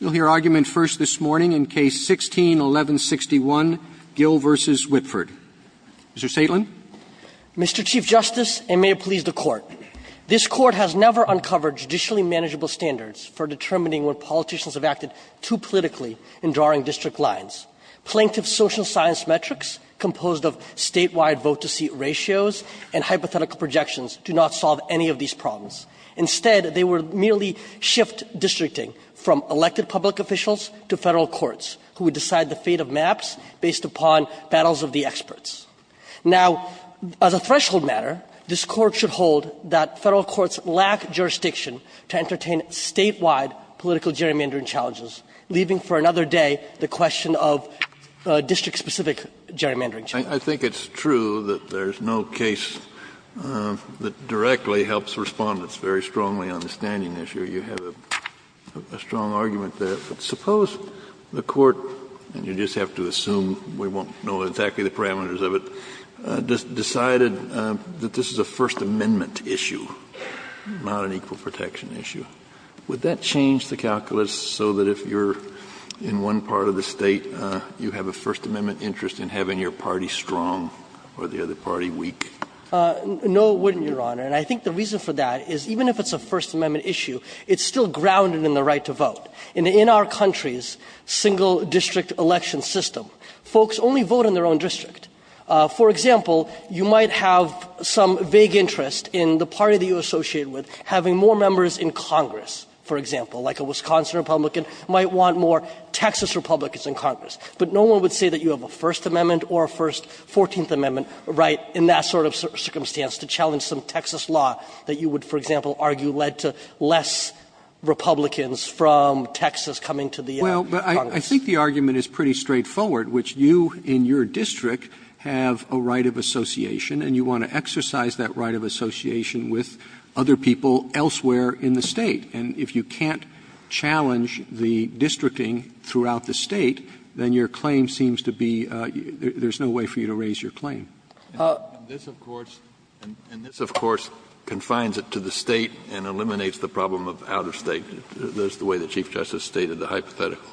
We'll hear argument first this morning in Case 16-1161, Gill v. Whitford. Mr. Saitlan. Mr. Chief Justice, and may it please the Court, this Court has never uncovered judicially manageable standards for determining when politicians have acted too politically in drawing district lines. Plaintiff social science metrics composed of statewide vote-to-seat ratios and hypothetical projections do not solve any of these problems. Instead, they would merely shift districting from elected public officials to Federal courts, who would decide the fate of maps based upon battles of the experts. Now, as a threshold matter, this Court should hold that Federal courts lack jurisdiction to entertain statewide political gerrymandering challenges, leaving for another day the question of district-specific gerrymandering challenges. Kennedy, I think it's true that there's no case that directly helps Respondents very strongly on the standing issue. You have a strong argument there. But suppose the Court, and you just have to assume we won't know exactly the parameters of it, decided that this is a First Amendment issue, not an equal protection issue. Would that change the calculus so that if you're in one part of the State, you have a First Amendment interest in having your party strong or the other party weak? No, it wouldn't, Your Honor. And I think the reason for that is, even if it's a First Amendment issue, it's still grounded in the right to vote. In our country's single-district election system, folks only vote in their own district. For example, you might have some vague interest in the party that you're associated with having more members in Congress, for example. Like a Wisconsin Republican might want more Texas Republicans in Congress. But no one would say that you have a First Amendment or a First 14th Amendment right in that sort of circumstance to challenge some Texas law that you would, for example, argue led to less Republicans from Texas coming to the Congress. Roberts. Roberts. Roberts. Well, but I think the argument is pretty straightforward, which you, in your district, have a right of association, and you want to exercise that right of association with other people elsewhere in the State. And if you can't challenge the districting throughout the State, then your claim seems to be there's no way for you to raise your claim. And this, of course, and this, of course, confines it to the State and eliminates the problem of outer State. That's the way the Chief Justice stated the hypothetical.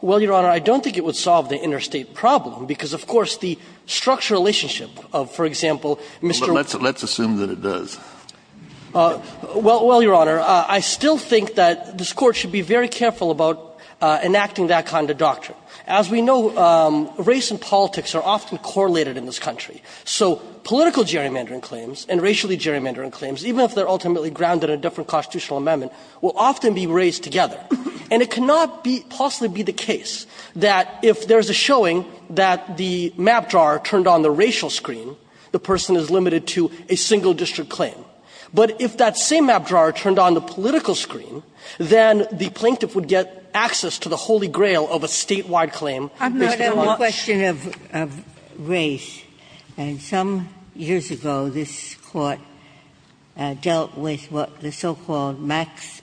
Well, Your Honor, I don't think it would solve the interstate problem, because, of course, the structural relationship of, for example, Mr. Let's assume that it does. Well, Your Honor, I still think that this Court should be very careful about enacting that kind of doctrine. As we know, race and politics are often correlated in this country. So political gerrymandering claims and racially gerrymandering claims, even if they're ultimately grounded in a different constitutional amendment, will often be raised together. And it cannot be the case that if there's a showing that the map drawer turned on the racial screen, the person is limited to a single district claim. But if that same map drawer turned on the political screen, then the plaintiff would get access to the holy grail of a State-wide claim based on the law. Ginsburg I'm not on the question of race. And some years ago, this Court dealt with what the so-called Max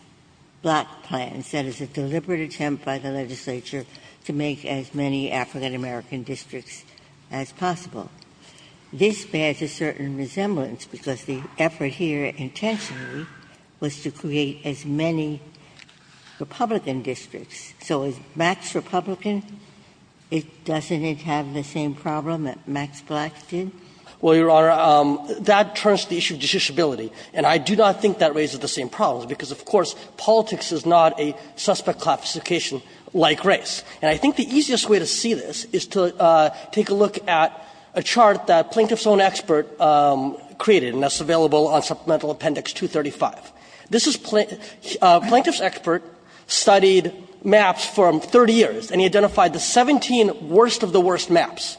Block Plan said is a deliberate attempt by the legislature to make as many African-American districts as possible. This bears a certain resemblance because the effort here intentionally was to create as many Republican districts. So is Max Republican? Doesn't it have the same problem that Max Block did? Well, Your Honor, that turns to the issue of justiciability. And I do not think that raises the same problems, because, of course, politics is not a suspect classification like race. And I think the easiest way to see this is to take a look at a chart that Plaintiff's own expert created, and that's available on Supplemental Appendix 235. This is Plaintiff's expert studied maps from 30 years, and he identified the 17 worst of the worst maps.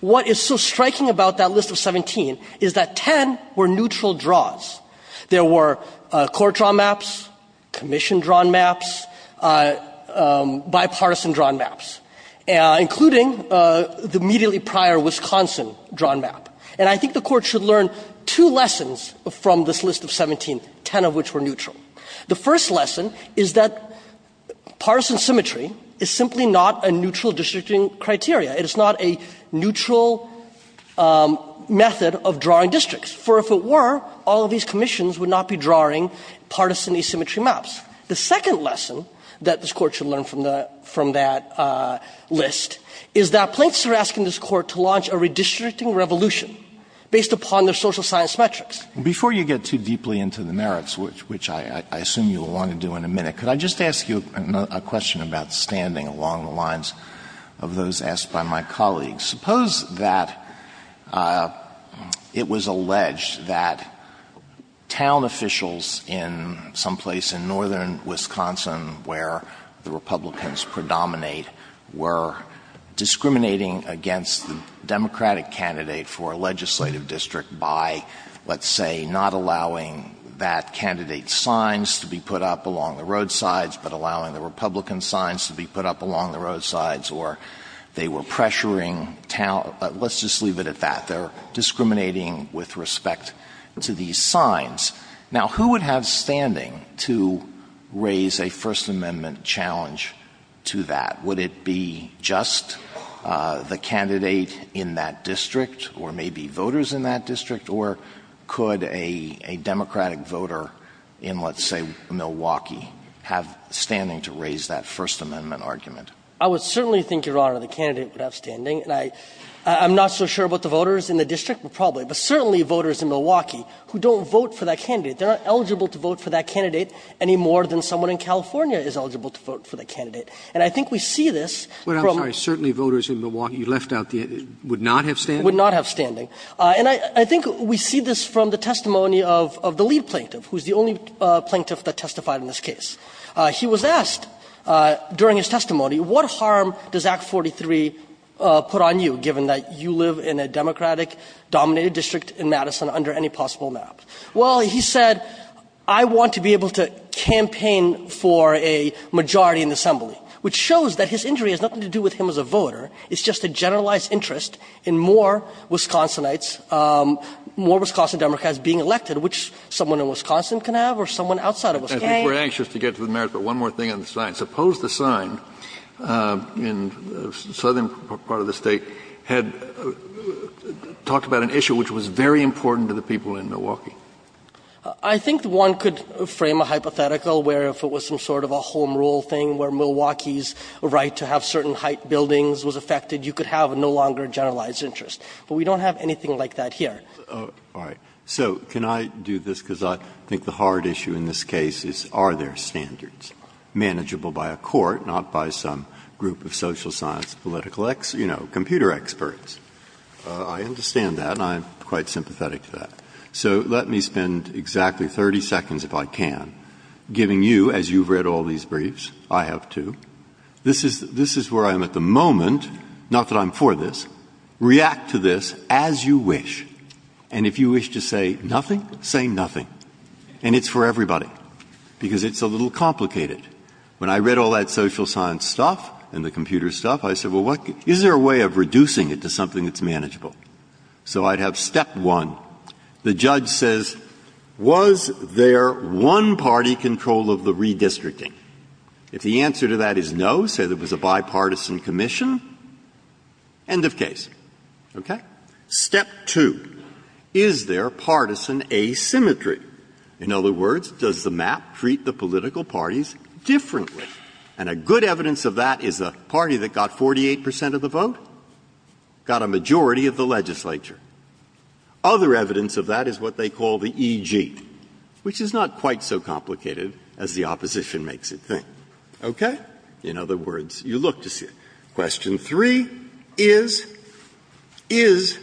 What is so striking about that list of 17 is that 10 were neutral draws. There were court-drawn maps, commission-drawn maps, bipartisan-drawn maps, including the immediately prior Wisconsin-drawn map. And I think the Court should learn two lessons from this list of 17, 10 of which were neutral. The first lesson is that partisan symmetry is simply not a neutral districting criteria. It is not a neutral method of drawing districts. For if it were, all of these commissions would not be drawing partisan asymmetry maps. The second lesson that this Court should learn from that list is that Plaintiffs are asking this Court to launch a redistricting revolution based upon their social science metrics. Alito, which I assume you will want to do in a minute, could I just ask you a question about standing along the lines of those asked by my colleagues? Suppose that it was alleged that town officials in some place in northern Wisconsin where the Republicans predominate were discriminating against the Democratic candidate for a legislative district by, let's say, not allowing that candidate's signs to be put up along the roadsides, but allowing the Republican signs to be put up along the roadsides, or they were pressuring town — let's just leave it at that. They're discriminating with respect to these signs. Now, who would have standing to raise a First Amendment challenge to that? Would it be just the candidate in that district or maybe voters in that district? Or could a Democratic voter in, let's say, Milwaukee have standing to raise that First Amendment argument? I would certainly think, Your Honor, the candidate would have standing. And I'm not so sure about the voters in the district, but probably. But certainly voters in Milwaukee who don't vote for that candidate, they're not eligible to vote for that candidate any more than someone in California is eligible to vote for that candidate. And I think we see this from the — But I'm sorry, certainly voters in Milwaukee, you left out the — would not have standing? Would not have standing. And I think we see this from the testimony of the lead Plaintiff, who is the only Plaintiff that testified in this case. He was asked during his testimony, what harm does Act 43 put on you, given that you live in a Democratic-dominated district in Madison under any possible map? Well, he said, I want to be able to campaign for a majority in the assembly, which shows that his injury has nothing to do with him as a voter. It's just a generalized interest in more Wisconsinites, more Wisconsin Democrats being elected, which someone in Wisconsin can have or someone outside of Wisconsin. I think we're anxious to get to the merits, but one more thing on the sign. Suppose the sign in the southern part of the State had talked about an issue which was very important to the people in Milwaukee. I think one could frame a hypothetical where, if it was some sort of a home rule thing where Milwaukee's right to have certain height buildings was affected, you could have no longer a generalized interest. But we don't have anything like that here. All right. So can I do this, because I think the hard issue in this case is, are there standards manageable by a court, not by some group of social science, political, you know, computer experts? I understand that, and I'm quite sympathetic to that. So let me spend exactly 30 seconds, if I can, giving you, as you've read all these briefs, I have too. This is where I am at the moment, not that I'm for this. React to this as you wish, and if you wish to say nothing, say nothing. And it's for everybody, because it's a little complicated. When I read all that social science stuff and the computer stuff, I said, well, is there a way of reducing it to something that's manageable? So I'd have step one. The judge says, was there one-party control of the redistricting? If the answer to that is no, say there was a bipartisan commission, end of case. Okay? Step two, is there partisan asymmetry? In other words, does the map treat the political parties differently? And a good evidence of that is a party that got 48 percent of the vote got a majority of the legislature. Other evidence of that is what they call the E.G., which is not quite so complicated as the opposition makes it think. Okay? In other words, you look to see it. Question three is, is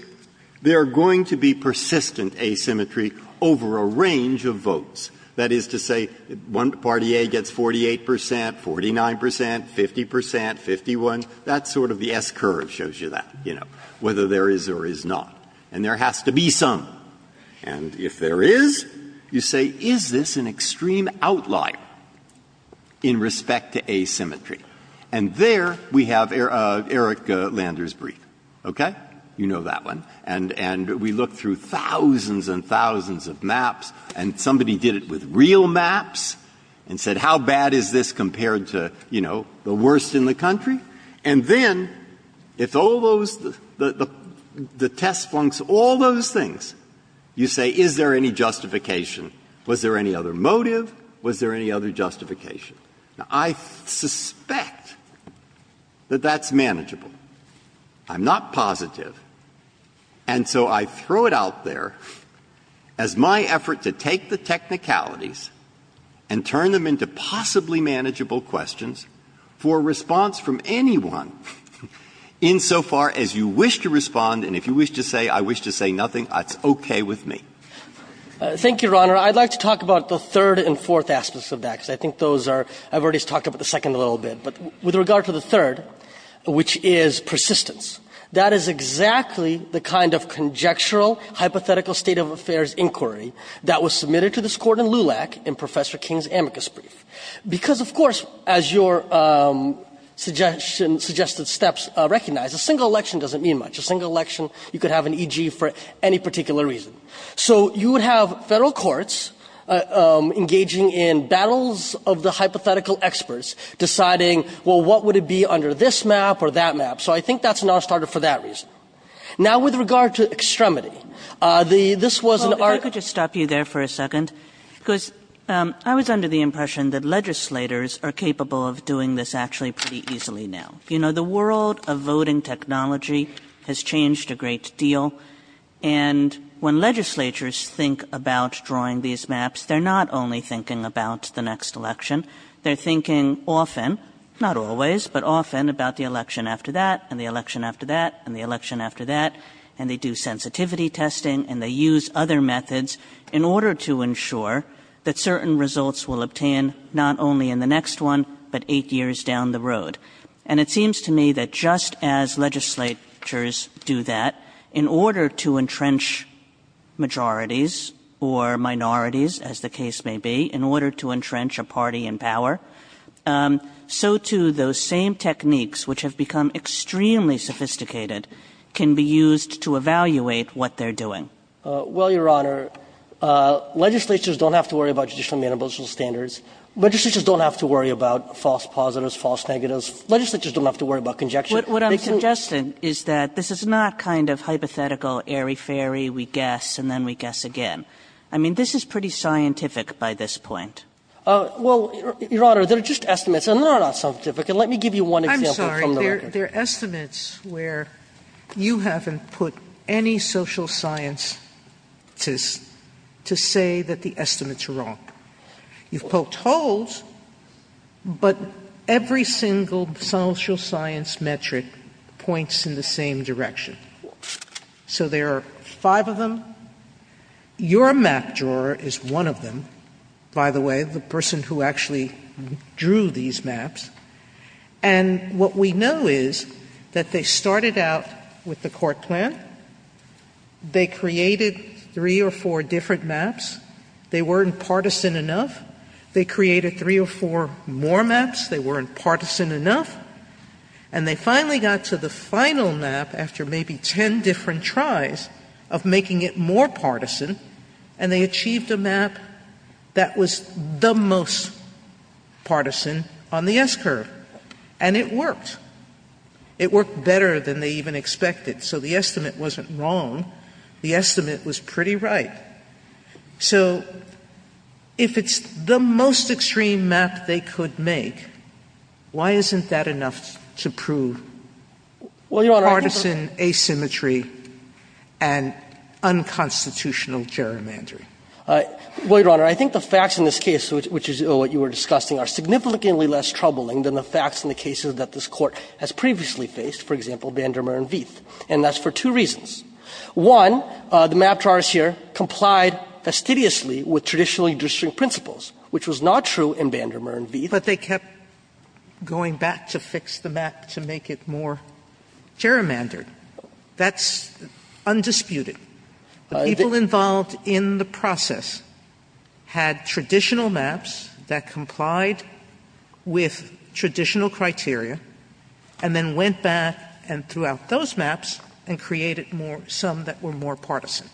there going to be persistent asymmetry over a range of votes? That is to say, one-party A gets 48 percent, 49 percent, 50 percent, 51. That's sort of the S-curve shows you that, you know, whether there is or is not. And there has to be some. And if there is, you say, is this an extreme outlier in respect to asymmetry? And there we have Eric Lander's brief. Okay? You know that one. And we look through thousands and thousands of maps, and somebody did it with real maps and said, how bad is this compared to, you know, the worst in the country? And then, if all those the test flunks, all those things, you say, is there any justification? Was there any other motive? Was there any other justification? Now, I suspect that that's manageable. I'm not positive. And so I throw it out there as my effort to take the technicalities and turn them into possibly manageable questions for a response from anyone insofar as you wish to respond, and if you wish to say, I wish to say nothing, that's okay with me. Thank you, Your Honor. I'd like to talk about the third and fourth aspects of that, because I think those are – I've already talked about the second a little bit. But with regard to the third, which is persistence, that is exactly the kind of conjectural, hypothetical state of affairs inquiry that was submitted to this Court in LULAC in Professor King's amicus brief. Because, of course, as your suggestion – suggested steps recognize, a single election doesn't mean much. A single election, you could have an E.G. for any particular reason. So you would have federal courts engaging in battles of the hypothetical experts, deciding, well, what would it be under this map or that map? So I think that's not a starter for that reason. Now with regard to extremity, this was an – Well, if I could just stop you there for a second, because I was under the impression that legislators are capable of doing this actually pretty easily now. You know, the world of voting technology has changed a great deal. And when legislatures think about drawing these maps, they're not only thinking about the next election, they're thinking often – not always, but often – about the election after that, and the election after that, and the election after that. And they do sensitivity testing, and they use other methods in order to ensure that certain results will obtain not only in the next one, but eight years down the road. And it seems to me that just as legislatures do that, in order to entrench majorities or minorities, as the case may be, in order to entrench a party in power, so too those same techniques, which have become extremely sophisticated, can be used to evaluate what they're doing. Well, Your Honor, legislatures don't have to worry about judicial and municipal standards. Legislatures don't have to worry about false positives, false negatives. Legislatures don't have to worry about conjecture. What I'm suggesting is that this is not kind of hypothetical, airy-fairy, we guess and then we guess again. I mean, this is pretty scientific by this point. Well, Your Honor, there are just estimates, and they are not scientific. And let me give you one example from the record. I'm sorry. There are estimates where you haven't put any social scientists to say that the estimates are wrong. You've poked holes, but every single social science metric points in the same direction. So there are five of them. Your map drawer is one of them, by the way, the person who actually drew these maps. And what we know is that they started out with the court plan. They created three or four different maps. They weren't partisan enough. They created three or four more maps. They weren't partisan enough. And they finally got to the final map after maybe 10 different tries of making it more partisan, and they achieved a map that was the most partisan on the S-curve. And it worked. It worked better than they even expected. So the estimate wasn't wrong. The estimate was pretty right. So if it's the most extreme map they could make, why isn't that enough to prove partisan asymmetry and unconstitutional gerrymandering? Well, Your Honor, I think the facts in this case, which is what you were discussing, are significantly less troubling than the facts in the cases that this Court has previously faced, for example, Vandermeer and Veith. And that's for two reasons. One, the map drawers here complied fastidiously with traditional district principles, which was not true in Vandermeer and Veith. But they kept going back to fix the map to make it more gerrymandered. That's undisputed. People involved in the process had traditional maps that complied with traditional criteria and then went back and threw out those maps and created some that were more partisan.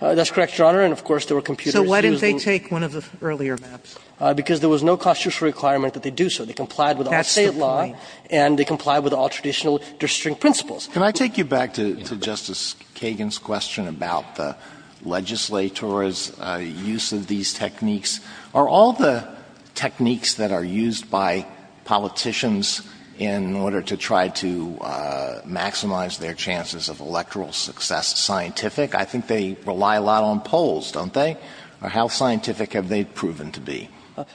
That's correct, Your Honor. And, of course, there were computers used. So why didn't they take one of the earlier maps? Because there was no constitutional requirement that they do so. They complied with all state law. That's the point. And they complied with all traditional district principles. Can I take you back to Justice Kagan's question about the legislator's use of these techniques? Are all the techniques that are used by politicians in order to try to maximize their chances of electoral success scientific? I think they rely a lot on polls, don't they? Or how scientific have they proven to be?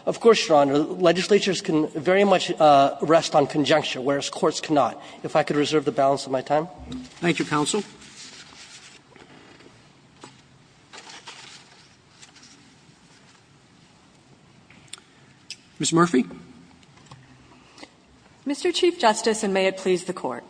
Of course, Your Honor. Legislatures can very much rest on conjunction, whereas courts cannot. If I could reserve the balance of my time. Thank you, counsel. Ms. Murphy. Mr. Chief Justice, and may it please the Court.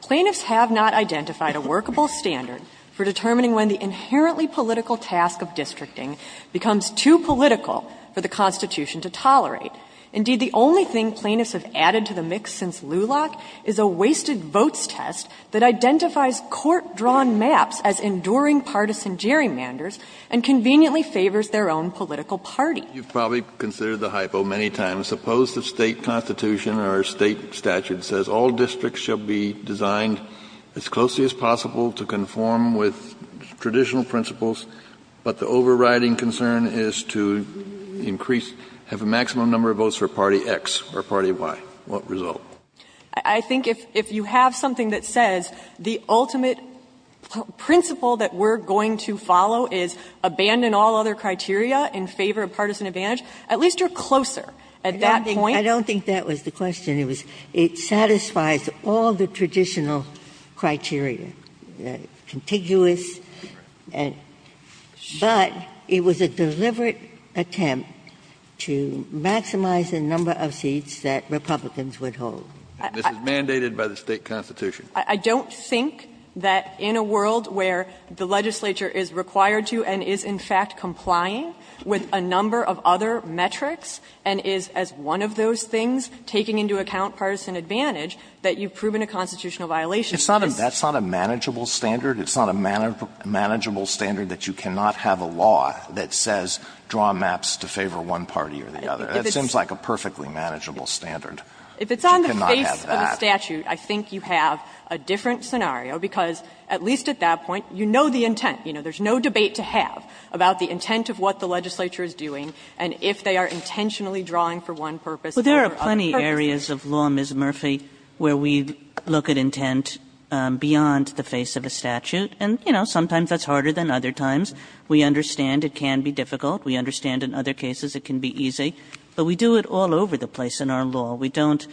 Plaintiffs have not identified a workable standard for determining when the inherently political task of districting becomes too political for the Constitution to tolerate. Indeed, the only thing plaintiffs have added to the mix since Luloch is a wasted votes test that identifies court-drawn maps as enduring partisan gerrymanders and conveniently favors their own political party. You've probably considered the hypo many times. Suppose the state constitution or state statute says all districts shall be designed as closely as possible to conform with traditional principles, but the overriding concern is to increase, have a maximum number of votes for party X or party Y. What result? I think if you have something that says the ultimate principle that we're going to follow is abandon all other criteria in favor of partisan advantage, at least you're closer at that point. I don't think that was the question. It was it satisfies all the traditional criteria, contiguous, but it was a deliberate attempt to maximize the number of seats that Republicans would hold. And this is mandated by the state constitution. I don't think that in a world where the legislature is required to and is in fact complying with a number of other metrics and is, as one of those things, taking into account partisan advantage, that you've proven a constitutional violation. It's not a manageable standard. It's not a manageable standard that you cannot have a law that says draw maps to favor one party or the other. That seems like a perfectly manageable standard. You cannot have that. If it's on the face of a statute, I think you have a different scenario, because at least at that point, you know the intent. You know, there's no debate to have about the intent of what the legislature is doing, and if they are intentionally drawing for one purpose or for other purposes. Well, there are plenty of areas of law, Ms. Murphy, where we look at intent beyond the face of a statute. And, you know, sometimes that's harder than other times. We understand it can be difficult. We understand in other cases it can be easy. But we do it all over the place in our law. We don't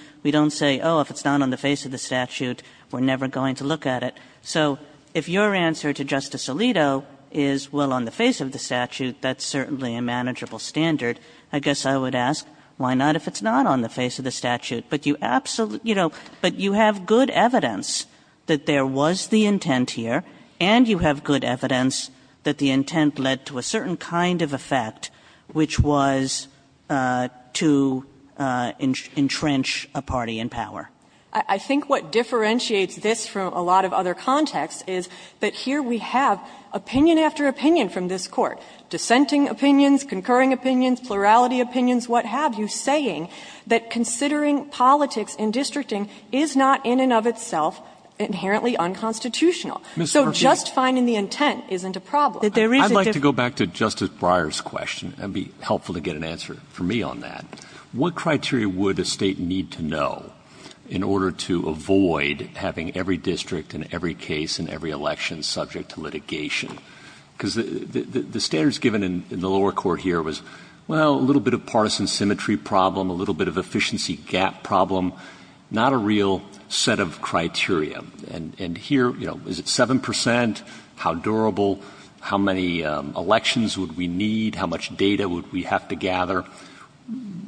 say, oh, if it's not on the face of the statute, we're never going to look at it. So if your answer to Justice Alito is, well, on the face of the statute, that's certainly a manageable standard. I guess I would ask, why not if it's not on the face of the statute? But you have good evidence that there was the intent here, and you have good evidence that the intent led to a certain kind of effect, which was to entrench a party in power. I think what differentiates this from a lot of other contexts is that here we have opinion after opinion from this Court, dissenting opinions, concurring opinions, plurality opinions, what have you, saying that considering politics and districting is not in and of itself inherently unconstitutional. So just finding the intent isn't a problem. I'd like to go back to Justice Breyer's question, and it would be helpful to get an answer from me on that. What criteria would a state need to know in order to avoid having every district and every case and every election subject to litigation? because the standards given in the lower court here was, well, a little bit of partisan symmetry problem, a little bit of efficiency gap problem, not a real set of criteria. And here, you know, is it 7 percent? How durable? How many elections would we need? How much data would we have to gather?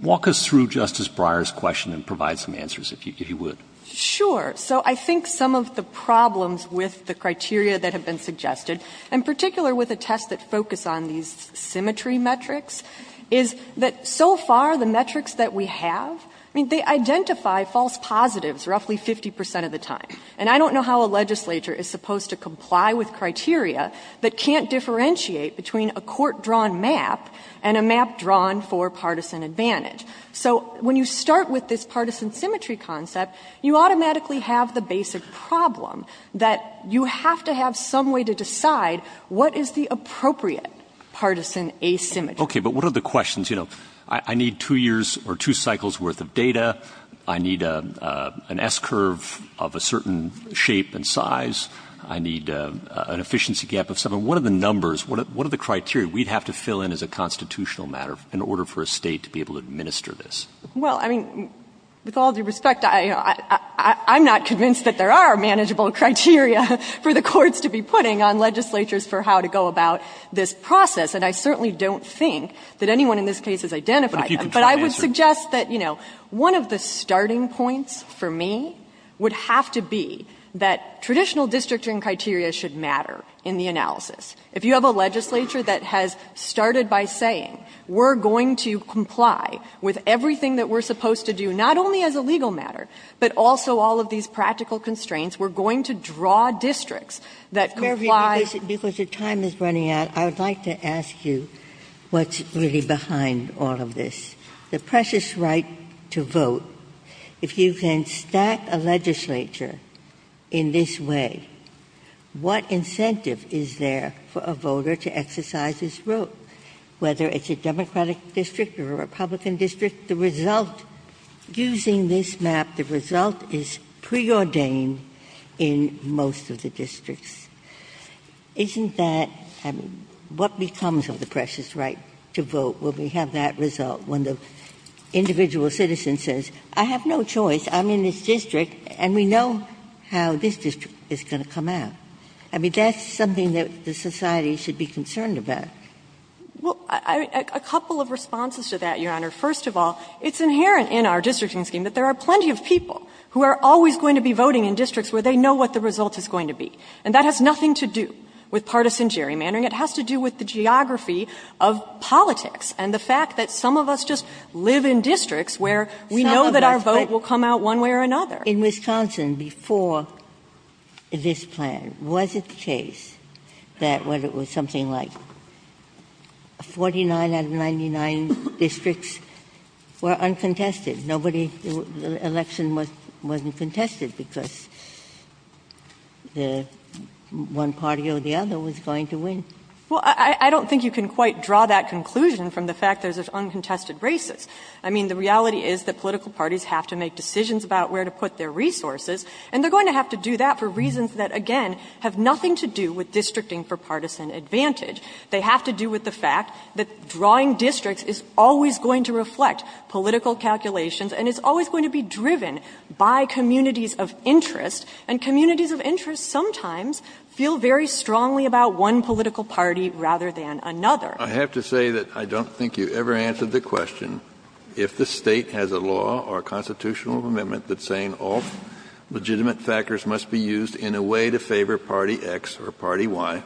Walk us through Justice Breyer's question and provide some answers, if you would. Sure. So I think some of the problems with the criteria that have been suggested, in particular with a test that focused on these symmetry metrics, is that so far the metrics that we have, I mean, they identify false positives roughly 50 percent of the time. And I don't know how a legislature is supposed to comply with criteria that can't differentiate between a court-drawn map and a map drawn for partisan advantage. So when you start with this partisan symmetry concept, you automatically have the basic problem that you have to have some way to decide what is the appropriate partisan asymmetry. Okay. But what are the questions, you know, I need 2 years or 2 cycles worth of data, I need an S-curve of a certain shape and size, I need an efficiency gap of 7, what are the numbers, what are the criteria we'd have to fill in as a constitutional matter in order for a State to be able to administer this? Well, I mean, with all due respect, I'm not convinced that there are manageable criteria for the courts to be putting on legislatures for how to go about this process. And I certainly don't think that anyone in this case has identified that. But I would suggest that, you know, one of the starting points, you know, is that one of the starting points for me would have to be that traditional districting criteria should matter in the analysis. If you have a legislature that has started by saying we're going to comply with everything that we're supposed to do, not only as a legal matter, but also all of these practical constraints, we're going to draw districts that comply. Ginsburg. Because your time is running out, I would like to ask you what's really behind all of this. The precious right to vote, if you can stack a legislature in this way, what incentive is there for a voter to exercise this vote? Whether it's a Democratic district or a Republican district, the result, using this map, the result is preordained in most of the districts. Isn't that, I mean, what becomes of the precious right to vote? Will we have that result when the individual citizen says, I have no choice, I'm in this district, and we know how this district is going to come out? I mean, that's something that the society should be concerned about. Saharsky. Well, a couple of responses to that, Your Honor. First of all, it's inherent in our districting scheme that there are plenty of people who are always going to be voting in districts where they know what the result is going to be. And that has nothing to do with partisan gerrymandering. It has to do with the geography of politics and the fact that some of us just live in districts where we know that our vote will come out one way or another. Ginsburg. In Wisconsin, before this plan, was it the case that when it was something like 49 out of 99 districts were uncontested, nobody, the election wasn't contested because one party or the other was going to win? Saharsky. Well, I don't think you can quite draw that conclusion from the fact there's uncontested races. I mean, the reality is that political parties have to make decisions about where to put their resources, and they're going to have to do that for reasons that, again, have nothing to do with districting for partisan advantage. They have to do with the fact that drawing districts is always going to reflect political calculations and it's always going to be driven by communities of interest. And communities of interest sometimes feel very strongly about one political party rather than another. Kennedy. I have to say that I don't think you ever answered the question if the State has a law or a constitutional amendment that's saying all legitimate factors must be used in a way to favor party X or party Y,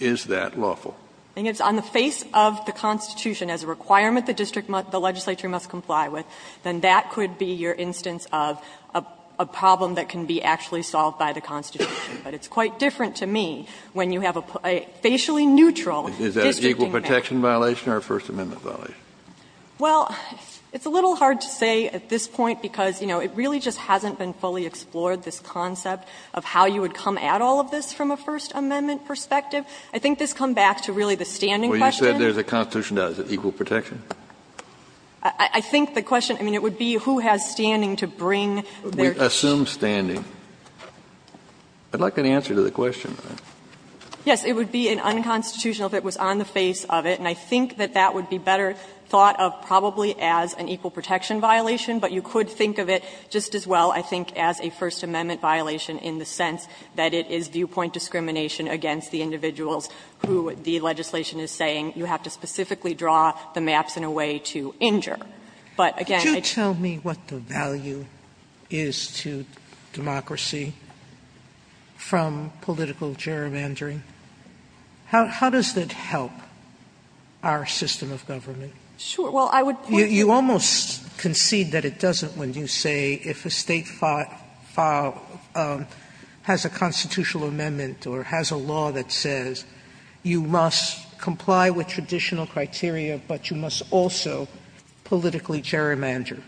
is that lawful? I think it's on the face of the Constitution as a requirement the district, the legislature must comply with, then that could be your instance of a problem that can be actually solved by the Constitution. But it's quite different to me when you have a facially neutral districting factor. Is that an equal protection violation or a First Amendment violation? Well, it's a little hard to say at this point because, you know, it really just hasn't been fully explored, this concept of how you would come at all of this from a First Amendment perspective. I think this comes back to really the standing question. Well, you said there's a Constitution. Is it equal protection? I think the question, I mean, it would be who has standing to bring their case. We assume standing. I'd like an answer to the question. Yes. It would be an unconstitutional if it was on the face of it, and I think that that would be better thought of probably as an equal protection violation, but you could think of it just as well, I think, as a First Amendment violation in the sense that it is viewpoint discrimination against the individuals who the legislation is saying you have to specifically draw the maps in a way to injure. But, again, I just don't think it's fair to say it's an equal protection violation. Sotomayor, could you tell me what the value is to democracy from political gerrymandering? How does that help our system of government? Well, I would point to the question. You almost concede that it doesn't when you say if a State has a constitutional amendment or has a law that says you must comply with traditional criteria, but you must also politically gerrymander.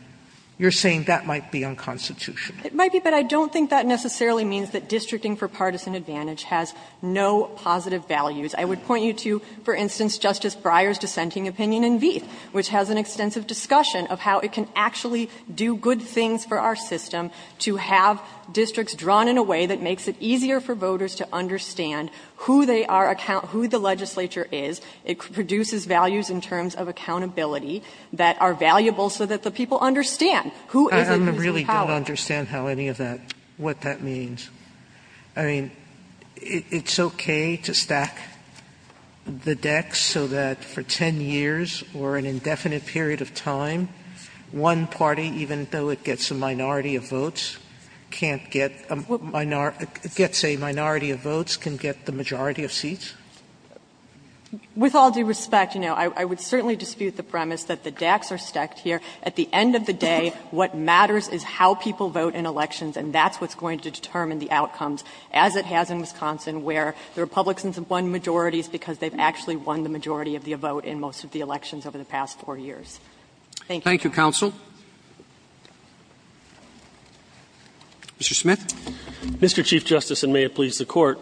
You're saying that might be unconstitutional. It might be, but I don't think that necessarily means that districting for partisan advantage has no positive values. I would point you to, for instance, Justice Breyer's dissenting opinion in Veith, which has an extensive discussion of how it can actually do good things for our system to have districts drawn in a way that makes it easier for voters to understand who they are, who the legislature is. It produces values in terms of accountability that are valuable so that the people understand who is in power. Sotomayor, I really don't understand how any of that, what that means. I mean, it's okay to stack the decks so that for 10 years or an indefinite period of time, one party, even though it gets a minority of votes, can't get a minority of votes, can get the majority of seats? With all due respect, you know, I would certainly dispute the premise that the decks are stacked here. At the end of the day, what matters is how people vote in elections, and that's what's going to determine the outcomes, as it has in Wisconsin, where the Republicans have won majorities because they've actually won the majority of the vote in most of the elections over the past 4 years. Thank you, counsel. Mr. Smith? Mr. Chief Justice, and may it please the Court,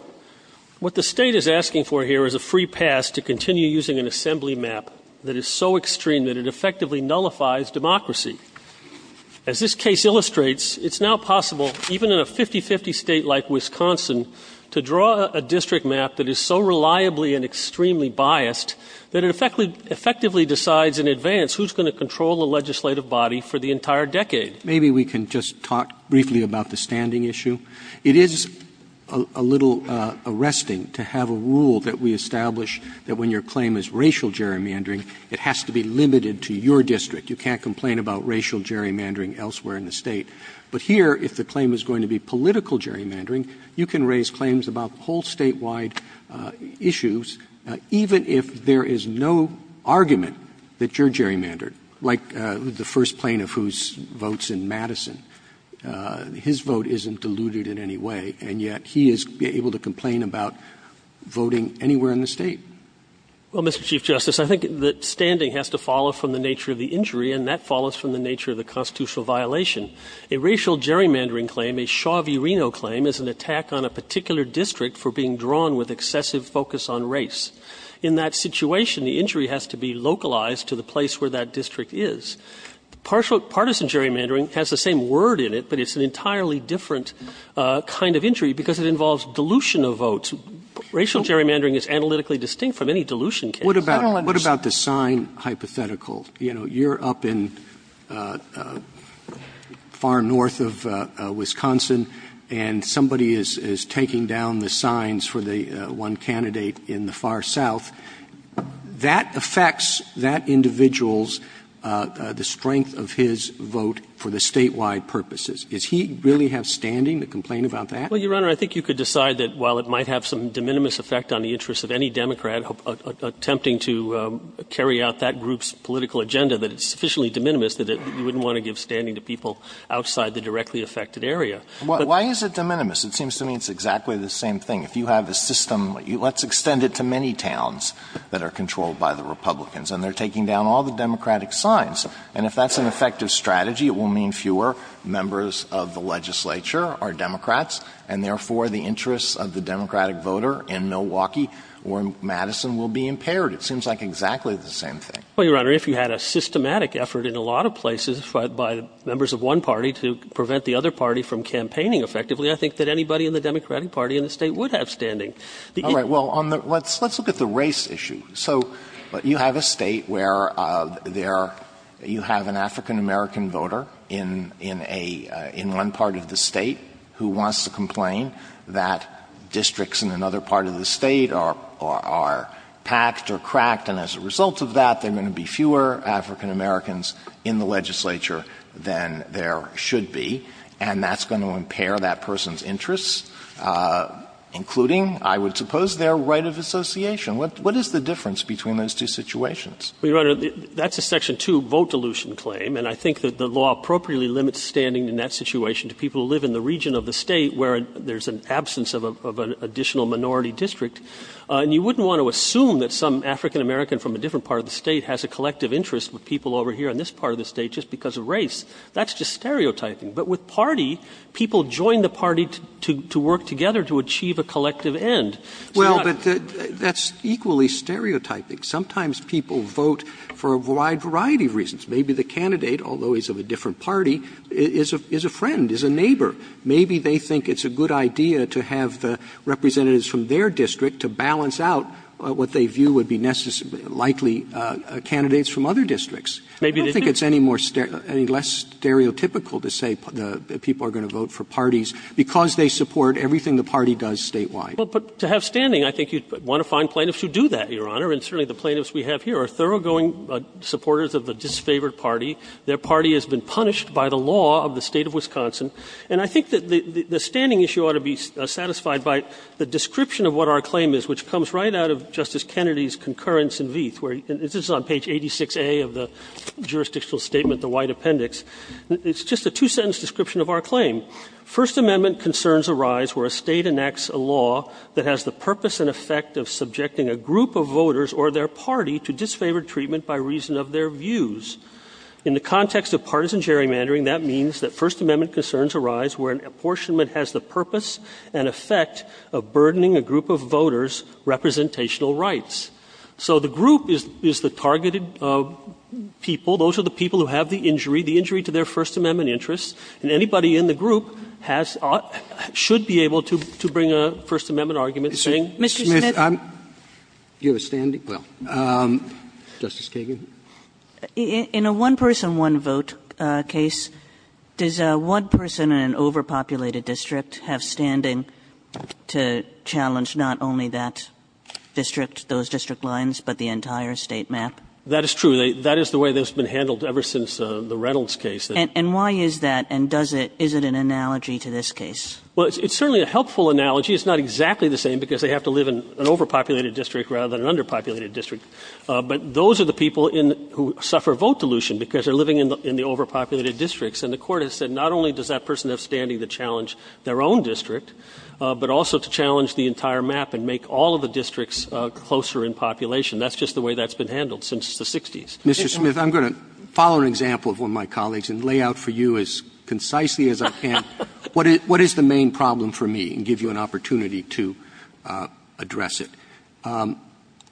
what the state is asking for here is a free pass to continue using an assembly map that is so extreme that it effectively nullifies democracy. As this case illustrates, it's now possible, even in a 50-50 state like Wisconsin, to draw a district map that is so reliably and extremely biased that it effectively decides in advance who's going to control the legislative body for the entire decade. Maybe we can just talk briefly about the standing issue. It is a little arresting to have a rule that we establish that when your claim is racial gerrymandering, it has to be limited to your district. You can't complain about racial gerrymandering elsewhere in the state. But here, if the claim is going to be political gerrymandering, you can raise claims about whole statewide issues, even if there is no argument that you're gerrymandered, like the first plaintiff whose vote's in Madison. His vote isn't diluted in any way, and yet he is able to complain about voting anywhere in the state. Well, Mr. Chief Justice, I think that standing has to follow from the nature of the injury, and that follows from the nature of the constitutional violation. A racial gerrymandering claim, a Shaw v. Reno claim, is an attack on a particular district for being drawn with excessive focus on race. In that situation, the injury has to be localized to the place where that district is. Partisan gerrymandering has the same word in it, but it's an entirely different kind of injury because it involves dilution of votes. Racial gerrymandering is analytically distinct from any dilution case. I don't understand. Well, what about the sign hypothetical? You know, you're up in far north of Wisconsin, and somebody is taking down the signs for the one candidate in the far south. That affects that individual's, the strength of his vote for the statewide purposes. Does he really have standing to complain about that? Well, Your Honor, I think you could decide that while it might have some de minimis effect on the interest of any Democrat attempting to carry out that group's political agenda, that it's sufficiently de minimis that you wouldn't want to give standing to people outside the directly affected area. Why is it de minimis? It seems to me it's exactly the same thing. If you have a system, let's extend it to many towns that are controlled by the Republicans, and they're taking down all the Democratic signs. And if that's an effective strategy, it will mean fewer members of the legislature are Democrats, and therefore the interests of the Democratic voter in Milwaukee or in Madison will be impaired. It seems like exactly the same thing. Well, Your Honor, if you had a systematic effort in a lot of places by members of one party to prevent the other party from campaigning effectively, I think that anybody in the Democratic Party in the State would have standing. All right. Well, let's look at the race issue. So you have a State where there you have an African-American voter in one part of the State who wants to complain that districts in another part of the State are packed or cracked, and as a result of that, there are going to be fewer African-Americans in the legislature than there should be, and that's going to impair that person's interests, including, I would suppose, their right of association. What is the difference between those two situations? Well, Your Honor, that's a Section 2 vote dilution claim, and I think that the law appropriately limits standing in that situation to people who live in the region of the State where there's an absence of an additional minority district. And you wouldn't want to assume that some African-American from a different part of the State has a collective interest with people over here in this part of the State just because of race. That's just stereotyping. But with party, people join the party to work together to achieve a collective end. So that's not the case. Well, but that's equally stereotyping. Sometimes people vote for a wide variety of reasons. Maybe the candidate, although he's of a different party, is a friend, is a neighbor. Maybe they think it's a good idea to have the representatives from their district to balance out what they view would be likely candidates from other districts. Maybe they do. I don't think it's any more stereo – any less stereotypical to say that people are going to vote for parties because they support everything the party does statewide. Well, but to have standing, I think you'd want to find plaintiffs who do that, Your Honor. And certainly the plaintiffs we have here are thoroughgoing supporters of the disfavored party. Their party has been punished by the law of the State of Wisconsin. And I think that the standing issue ought to be satisfied by the description of what our claim is, which comes right out of Justice Kennedy's concurrence in Vieth, where – this is on page 86A of the jurisdictional statement, the White Appendix. It's just a two-sentence description of our claim. First Amendment concerns arise where a State enacts a law that has the purpose and effect of subjecting a group of voters or their party to disfavored treatment by reason of their views. In the context of partisan gerrymandering, that means that First Amendment concerns arise where an apportionment has the purpose and effect of burdening a group of voters' representational rights. So the group is the targeted people. Those are the people who have the injury, the injury to their First Amendment interests. And anybody in the group has – should be able to bring a First Amendment argument to the table. Kagan. Mr. Smith, I'm – do you have a standing – well, Justice Kagan. Kagan. Kagan. In a one-person, one-vote case, does one person in an overpopulated district have standing to challenge not only that district, those district lines, but the entire State map? That is true. That is the way that's been handled ever since the Reynolds case. And why is that? And does it – is it an analogy to this case? Well, it's certainly a helpful analogy. It's not exactly the same because they have to live in an overpopulated district rather than an underpopulated district. But those are the people in – who suffer vote dilution because they're living in the overpopulated districts. And the Court has said not only does that person have standing to challenge their own district, but also to challenge the entire map and make all of the districts closer in population. That's just the way that's been handled since the 60s. Mr. Smith, I'm going to follow an example of one of my colleagues and lay out for you as concisely as I can what is – what is the main problem for me and give you an opportunity to address it.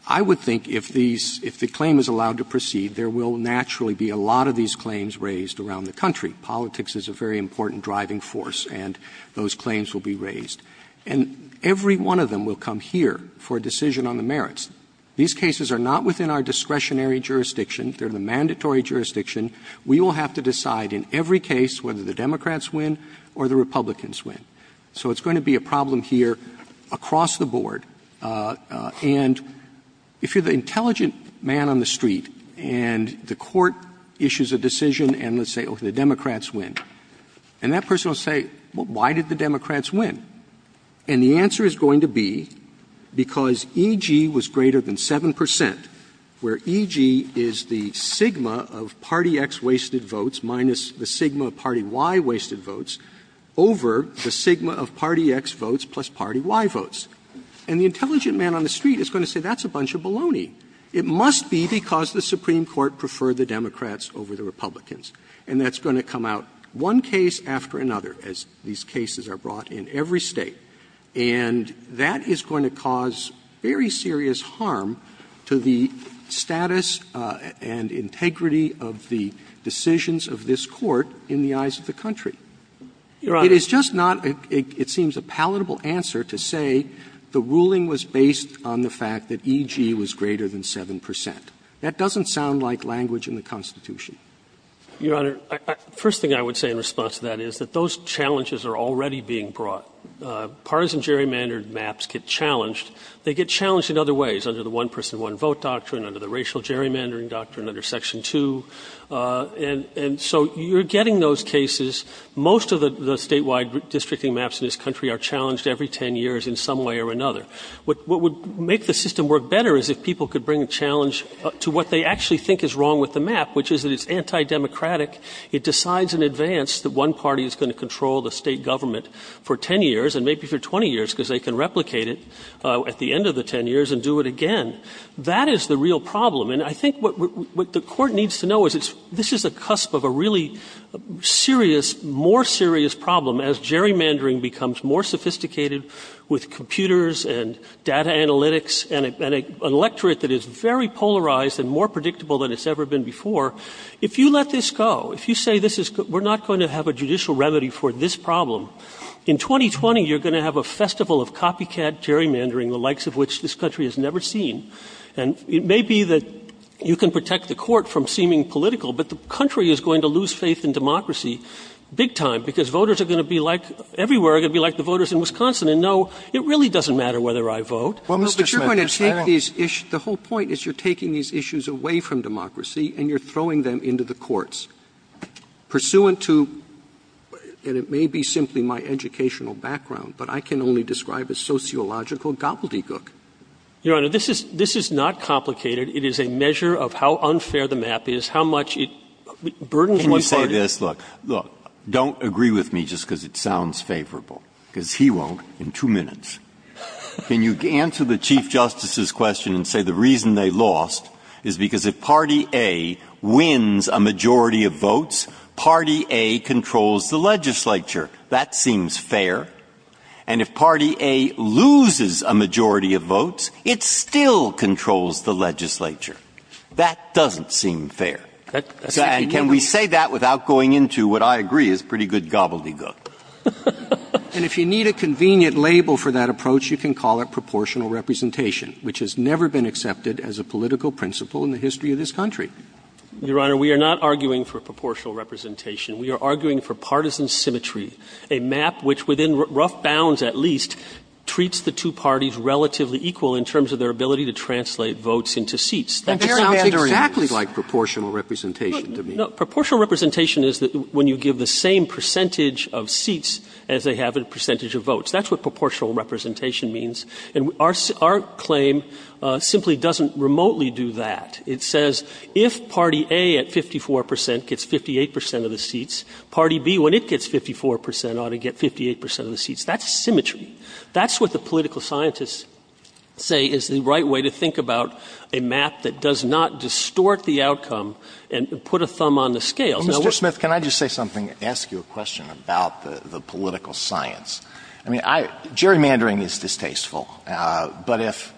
I would think if these – if the claim is allowed to proceed, there will naturally be a lot of these claims raised around the country. Politics is a very important driving force, and those claims will be raised. And every one of them will come here for a decision on the merits. These cases are not within our discretionary jurisdiction. They're the mandatory jurisdiction. We will have to decide in every case whether the Democrats win or the Republicans win. So it's going to be a problem here across the board. And if you're the intelligent man on the street and the Court issues a decision and let's say, okay, the Democrats win, and that person will say, well, why did the Democrats win? And the answer is going to be because E.G. was greater than 7 percent, where E.G. is the sigma of party X wasted votes minus the sigma of party Y wasted votes over the sigma of party X votes plus party Y votes. And the intelligent man on the street is going to say that's a bunch of baloney. It must be because the Supreme Court preferred the Democrats over the Republicans. And that's going to come out one case after another, as these cases are brought in every State. And that is going to cause very serious harm to the status and integrity of the decisions of this Court in the eyes of the country. It is just not, it seems, a palatable answer to say the ruling was based on the fact that E.G. was greater than 7 percent. That doesn't sound like language in the Constitution. Waxman. Your Honor, the first thing I would say in response to that is that those challenges are already being brought. Partisan gerrymandered maps get challenged. They get challenged in other ways, under the one-person, one-vote doctrine, under the racial gerrymandering doctrine, under Section 2. And so you're getting those cases. Most of the statewide districting maps in this country are challenged every 10 years in some way or another. What would make the system work better is if people could bring a challenge to what they actually think is wrong with the map, which is that it's anti-democratic. It decides in advance that one party is going to control the State government for 10 years, and maybe for 20 years, because they can replicate it at the end of the 10 years and do it again. That is the real problem. And I think what the Court needs to know is this is a cusp of a really serious, more serious problem as gerrymandering becomes more sophisticated with computers and data analytics and an electorate that is very polarized and more predictable than it's ever been before. If you let this go, if you say this is we're not going to have a judicial remedy for this problem, in 2020 you're going to have a festival of copycat gerrymandering, the likes of which this country has never seen. And it may be that you can protect the Court from seeming political, but the country is going to lose faith in democracy big time, because voters are going to be like the voters in Wisconsin and know it really doesn't matter whether I vote. Roberts. But you're going to take these issues, the whole point is you're taking these issues away from democracy and you're throwing them into the courts. Pursuant to, and it may be simply my educational background, but I can only describe a sociological gobbledygook. Your Honor, this is not complicated. It is a measure of how unfair the map is, how much it burdens one party. Can you say this? Look, don't agree with me just because it sounds favorable, because he won't in two minutes. Can you answer the Chief Justice's question and say the reason they lost is because if Party A wins a majority of votes, Party A controls the legislature. That seems fair. And if Party A loses a majority of votes, it still controls the legislature. That doesn't seem fair. And can we say that without going into what I agree is pretty good gobbledygook? And if you need a convenient label for that approach, you can call it proportional representation, which has never been accepted as a political principle in the history of this country. Your Honor, we are not arguing for proportional representation. We are arguing for partisan symmetry, a map which, within rough bounds at least, treats the two parties relatively equal in terms of their ability to translate votes into seats. That sounds exactly like proportional representation to me. Proportional representation is when you give the same percentage of seats as they have a percentage of votes. That's what proportional representation means. And our claim simply doesn't remotely do that. It says if Party A at 54 percent gets 58 percent of the seats, Party B, when it gets 54 percent, ought to get 58 percent of the seats. That's symmetry. That's what the political scientists say is the right way to think about a map that does not distort the outcome and put a thumb on the scale. Now, we're Mr. Smith, can I just say something, ask you a question about the political science? I mean, gerrymandering is distasteful. But if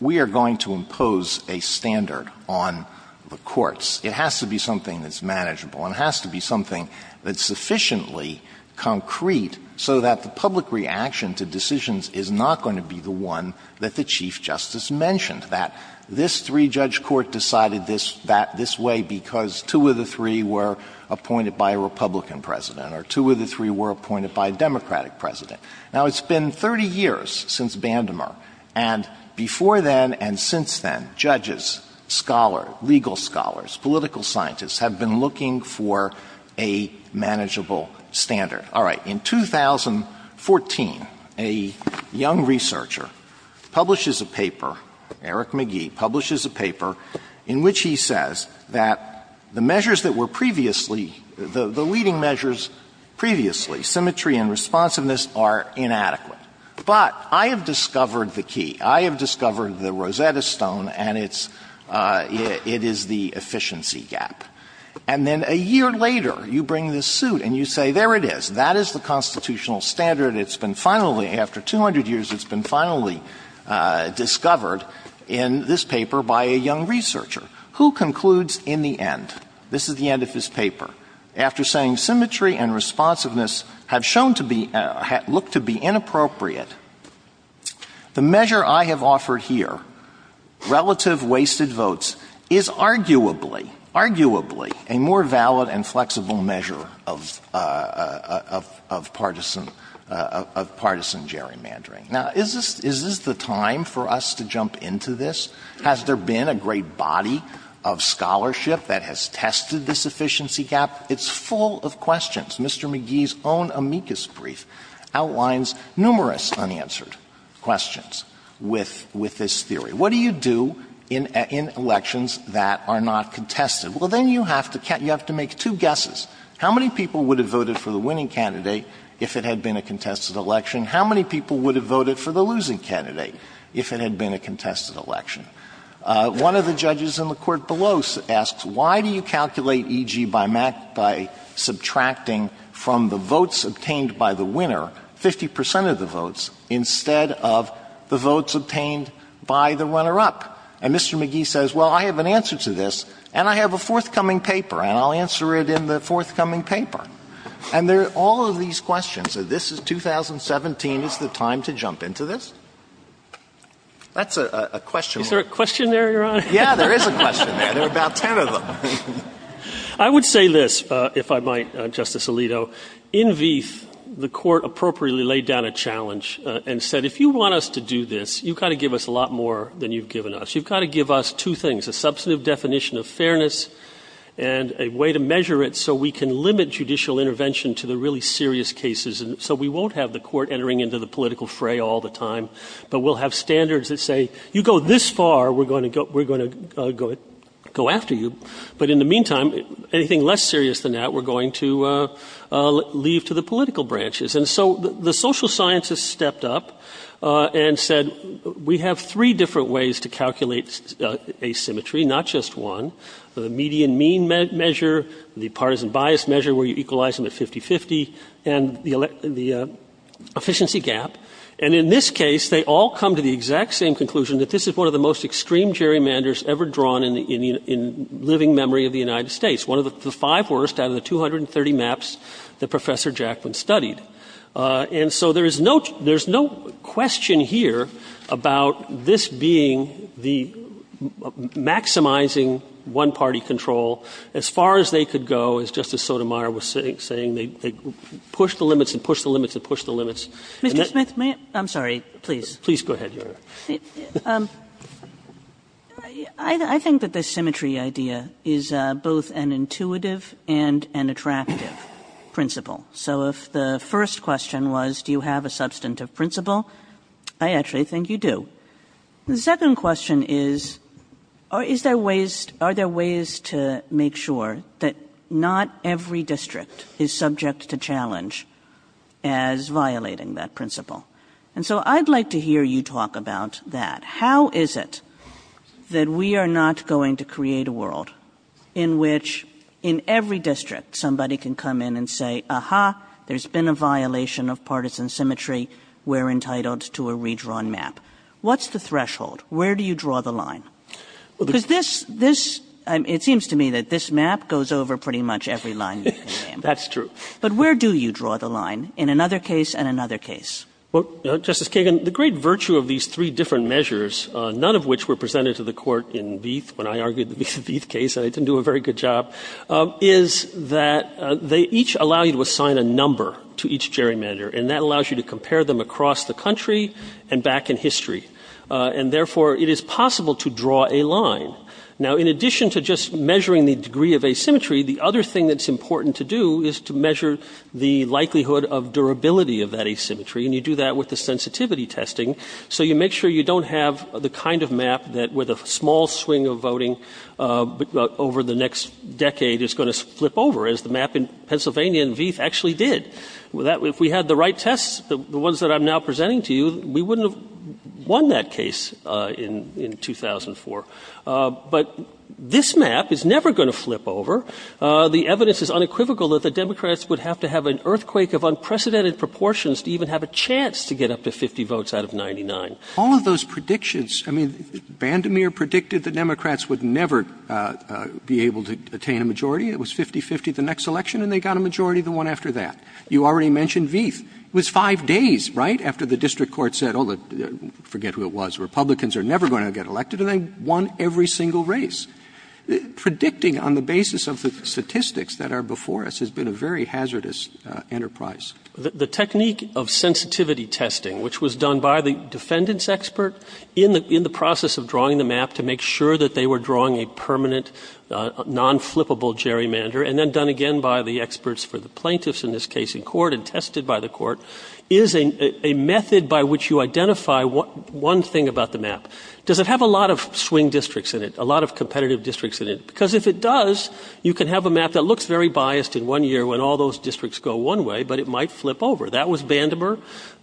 we are going to impose a standard on the courts, it has to be something that's manageable and has to be something that's sufficiently concrete so that the public reaction to decisions is not going to be the one that the Chief Justice mentioned, that this three-judge court decided this way because two of the three were appointed by a Republican president or two of the three were appointed by a Democratic president. Now, it's been 30 years since Bandmer, and before then and since then, judges, scholars, legal scholars, political scientists have been looking for a manageable standard. All right. In 2014, a young researcher publishes a paper, Eric McGee, publishes a paper in which he says that the measures that were previously, the leading measures previously, symmetry and responsiveness are inadequate. But I have discovered the key. I have discovered the Rosetta Stone, and it's the efficiency gap. And then a year later, you bring this suit and you say, there it is. That is the constitutional standard. It's been finally, after 200 years, it's been finally discovered in this paper by a young researcher, who concludes in the end, this is the end of his paper, after saying that symmetry and responsiveness have shown to be, look to be inappropriate, the measure I have offered here, relative wasted votes, is arguably, arguably, a more valid and flexible measure of partisan gerrymandering. Now, is this the time for us to jump into this? Has there been a great body of scholarship that has tested this efficiency gap? It's full of questions. Mr. McGee's own amicus brief outlines numerous unanswered questions with this theory. What do you do in elections that are not contested? Well, then you have to make two guesses. How many people would have voted for the winning candidate if it had been a contested election? How many people would have voted for the losing candidate if it had been a contested election? One of the judges in the court below asks, why do you calculate E.G. by subtracting from the votes obtained by the winner, 50 percent of the votes, instead of the votes obtained by the runner-up? And Mr. McGee says, well, I have an answer to this, and I have a forthcoming paper, and I'll answer it in the forthcoming paper. And there are all of these questions. This is 2017. Is the time to jump into this? That's a question worth answering. Is there a question there, Your Honor? Yeah, there is a question there. There are about 10 of them. I would say this, if I might, Justice Alito. In VIF, the court appropriately laid down a challenge and said, if you want us to do this, you've got to give us a lot more than you've given us. You've got to give us two things, a substantive definition of fairness and a way to measure it so we can limit judicial intervention to the really serious cases. And so we won't have the court entering into the political fray all the time, but we'll have standards that say, you go this far, we're going to go after you. But in the meantime, anything less serious than that, we're going to leave to the political branches. And so the social scientists stepped up and said, we have three different ways to calculate asymmetry, not just one, the median mean measure, the partisan bias measure where you equalize them at 50-50, and the efficiency gap. And in this case, they all come to the exact same conclusion that this is one of the most extreme gerrymanders ever drawn in living memory of the United States, one of the five worst out of the 230 maps that Professor Jackman studied. And so there is no question here about this being the maximizing one-party control as far as they could go, as Justice Sotomayor was saying, they push the limits and push the limits and push the limits. And that they push the limits. And Mr. Smith, may I ask? I'm sorry, please. Smith, please go ahead. Kagan. I think that the symmetry idea is both an intuitive and an attractive principle. So if the first question was, do you have a substantive principle, I actually think you do. The second question is, are there ways to make sure that not every district is subject to challenge as violating that principle. And so I'd like to hear you talk about that. How is it that we are not going to create a world in which in every district somebody can come in and say, aha, there's been a violation of partisan symmetry. We're entitled to a redrawn map. What's the threshold? Where do you draw the line? Because this, this, it seems to me that this map goes over pretty much every line. That's true. But where do you draw the line in another case and another case? Well, Justice Kagan, the great virtue of these three different measures, none of which were presented to the Court in Vieth when I argued the Vieth case, and I didn't do a very good job, is that they each allow you to assign a number to each gerrymander. And that allows you to compare them across the country and back in history. And therefore, it is possible to draw a line. Now, in addition to just measuring the degree of asymmetry, the other thing that's true is that you measure the likelihood of durability of that asymmetry, and you do that with the sensitivity testing. So you make sure you don't have the kind of map that, with a small swing of voting over the next decade, is going to flip over, as the map in Pennsylvania in Vieth actually did. If we had the right tests, the ones that I'm now presenting to you, we wouldn't have won that case in 2004. But this map is never going to flip over. The evidence is unequivocal that the Democrats would have to have an earthquake of unprecedented proportions to even have a chance to get up to 50 votes out of 99. Roberts, all of those predictions, I mean, Vandermeer predicted the Democrats would never be able to attain a majority. It was 50-50 the next election, and they got a majority the one after that. You already mentioned Vieth. It was 5 days, right, after the district court said, oh, forget who it was, Republicans are never going to get elected, and they won every single race. Predicting on the basis of the statistics that are before us has been a very hazardous enterprise. The technique of sensitivity testing, which was done by the defendant's expert in the process of drawing the map to make sure that they were drawing a permanent, non-flippable gerrymander, and then done again by the experts for the plaintiffs, in this case in court, and tested by the court, is a method by which you identify one thing about the map. Does it have a lot of swing districts in it? A lot of competitive districts in it? Because if it does, you can have a map that looks very biased in one year when all those districts go one way, but it might flip over. That was Vandermeer,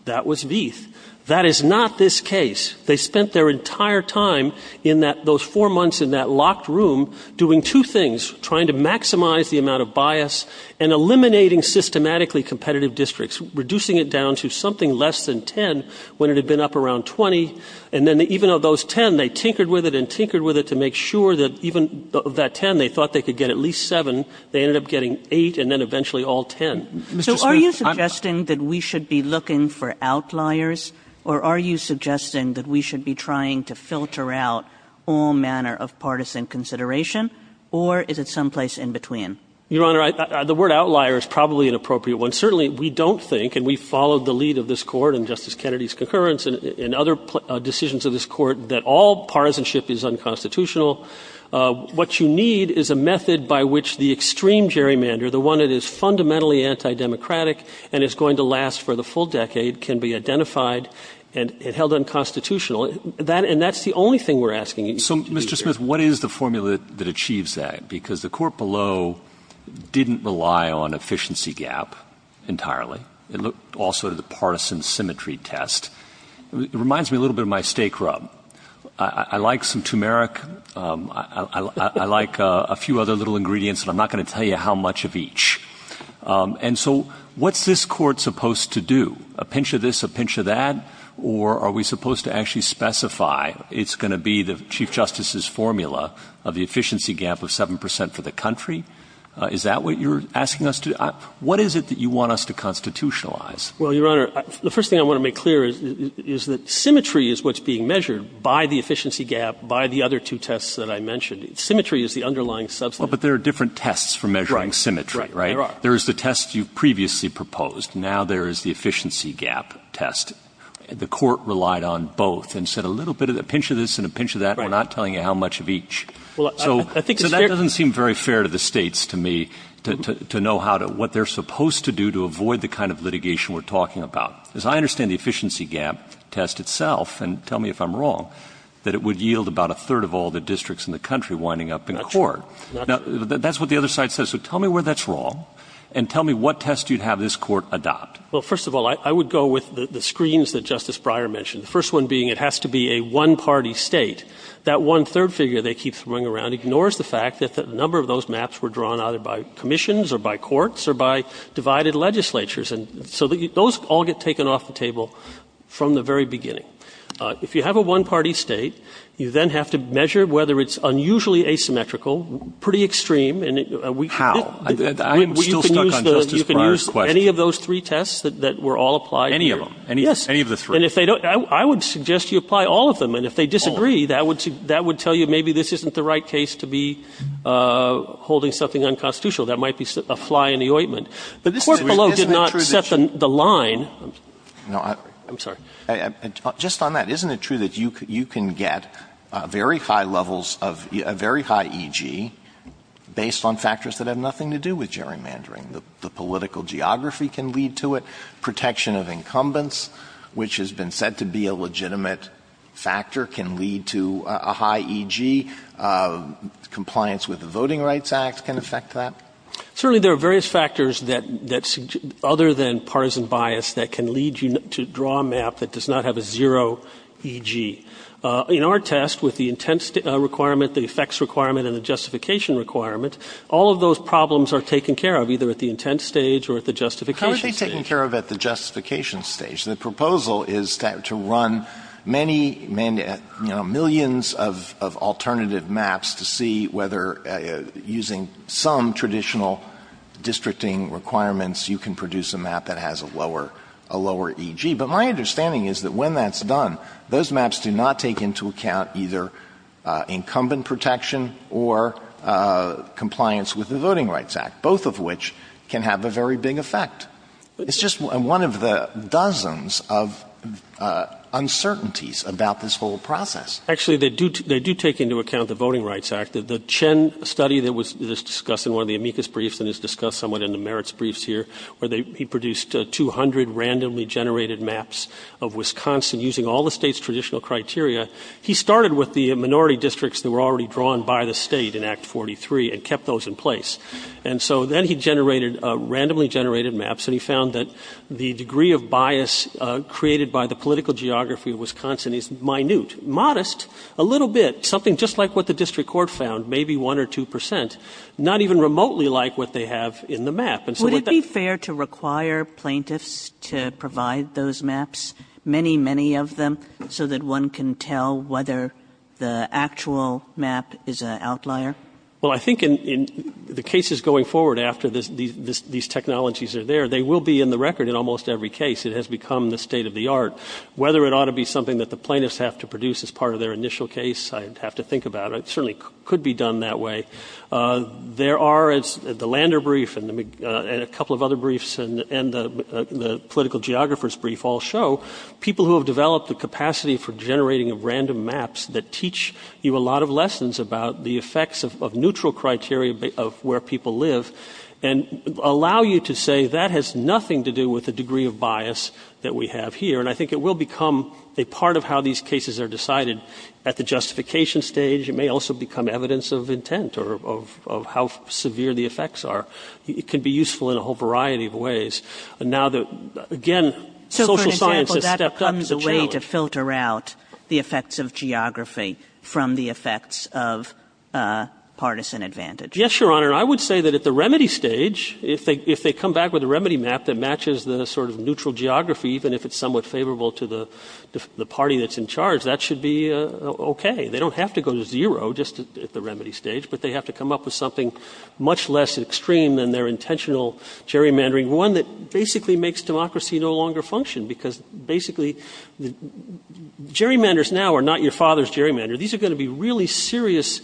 that was Vieth. That is not this case. They spent their entire time in those four months in that locked room doing two things, trying to maximize the amount of bias and eliminating systematically competitive districts, reducing it down to something less than 10 when it had been up around 20. And then even of those 10, they tinkered with it and tinkered with it to make sure that even that 10, they thought they could get at least 7, they ended up getting 8, and then eventually all 10. So are you suggesting that we should be looking for outliers, or are you suggesting that we should be trying to filter out all manner of partisan consideration, or is it someplace in between? Your Honor, the word outlier is probably an appropriate one. Certainly, we don't think, and we followed the lead of this Court and Justice Kennedy's concurrence and other decisions of this Court, that all partisanship is unconstitutional. What you need is a method by which the extreme gerrymander, the one that is fundamentally anti-democratic and is going to last for the full decade, can be identified and held unconstitutional, and that's the only thing we're asking you to do here. So, Mr. Smith, what is the formula that achieves that? Because the Court below didn't rely on efficiency gap entirely. It looked also at the partisan symmetry test. It reminds me a little bit of my steak rub. I like some turmeric, I like a few other little ingredients, and I'm not going to tell you how much of each. And so, what's this Court supposed to do? A pinch of this, a pinch of that? Or are we supposed to actually specify it's going to be the Chief Justice's formula of the efficiency gap of 7% for the country? Is that what you're asking us to do? What is it that you want us to constitutionalize? Well, Your Honor, the first thing I want to make clear is that symmetry is what's being measured by the efficiency gap, by the other two tests that I mentioned. Symmetry is the underlying substance. Well, but there are different tests for measuring symmetry, right? Right, there are. There is the test you previously proposed. Now there is the efficiency gap test. The Court relied on both and said a little bit of a pinch of this and a pinch of that. We're not telling you how much of each. So that doesn't seem very fair to the states, to me, to know what they're supposed to do to avoid the kind of litigation we're talking about. As I understand the efficiency gap test itself, and tell me if I'm wrong, that it would yield about a third of all the districts in the country winding up in court. Now, that's what the other side says, so tell me where that's wrong, and tell me what test you'd have this Court adopt. Well, first of all, I would go with the screens that Justice Breyer mentioned. The first one being it has to be a one-party state. That one third figure they keep throwing around ignores the fact that a number of those maps were drawn either by commissions or by courts or by divided legislatures. And so those all get taken off the table from the very beginning. If you have a one-party state, you then have to measure whether it's unusually asymmetrical, pretty extreme, and we- How? I'm still stuck on Justice Breyer's question. You can use any of those three tests that were all applied here. Any of them? Yes. Any of the three? And if they don't, I would suggest you apply all of them, and if they disagree, that would tell you maybe this isn't the right case to be holding something unconstitutional. That might be a fly in the ointment. But this is- Isn't it true that- Court below did not set the line. No, I- I'm sorry. Just on that, isn't it true that you can get very high levels of, a very high E.G. based on factors that have nothing to do with gerrymandering? The political geography can lead to it. Protection of incumbents, which has been said to be a legitimate factor, can lead to a high E.G. Compliance with the Voting Rights Act can affect that. Certainly, there are various factors that, other than partisan bias, that can lead you to draw a map that does not have a zero E.G. In our test, with the intent requirement, the effects requirement, and the justification requirement, all of those problems are taken care of, either at the intent stage or at the justification stage. How are they taken care of at the justification stage? The proposal is to run many, you know, millions of alternative maps to see whether, using some traditional districting requirements, you can produce a map that has a lower E.G. But my understanding is that when that's done, those maps do not take into account either compliance with the Voting Rights Act, both of which can have a very big effect. It's just one of the dozens of uncertainties about this whole process. Actually, they do take into account the Voting Rights Act. The Chen study that was discussed in one of the amicus briefs and is discussed somewhat in the merits briefs here, where he produced 200 randomly generated maps of Wisconsin using all the state's traditional criteria, he started with the minority districts that were already drawn by the state in Act 43 and kept those in place. And so then he generated, randomly generated maps, and he found that the degree of bias created by the political geography of Wisconsin is minute, modest, a little bit, something just like what the district court found, maybe 1 or 2 percent, not even remotely like what they have in the map. And so with that- Would it be fair to require plaintiffs to provide those maps, many, many of them, so that one can tell whether the actual map is an outlier? Well, I think in the cases going forward after these technologies are there, they will be in the record in almost every case. It has become the state of the art. Whether it ought to be something that the plaintiffs have to produce as part of their initial case, I'd have to think about it. It certainly could be done that way. There are, as the Lander brief and a couple of other briefs and the political geographer's brief all show, people who have developed the capacity for generating random maps that teach you a lot of lessons about the effects of neutral criteria of where people live, and allow you to say that has nothing to do with the degree of bias that we have here. And I think it will become a part of how these cases are decided. At the justification stage, it may also become evidence of intent or of how severe the effects are. It can be useful in a whole variety of ways. And now, again, social science has stepped up to the challenge. So, for example, that comes a way to filter out the effects of geography from the effects of partisan advantage? Yes, Your Honor. I would say that at the remedy stage, if they come back with a remedy map that matches the sort of neutral geography, even if it's somewhat favorable to the party that's in charge, that should be okay. They don't have to go to zero just at the remedy stage, but they have to come up with something much less extreme than their intentional gerrymandering. One that basically makes democracy no longer function, because basically, gerrymanders now are not your father's gerrymander. These are going to be really serious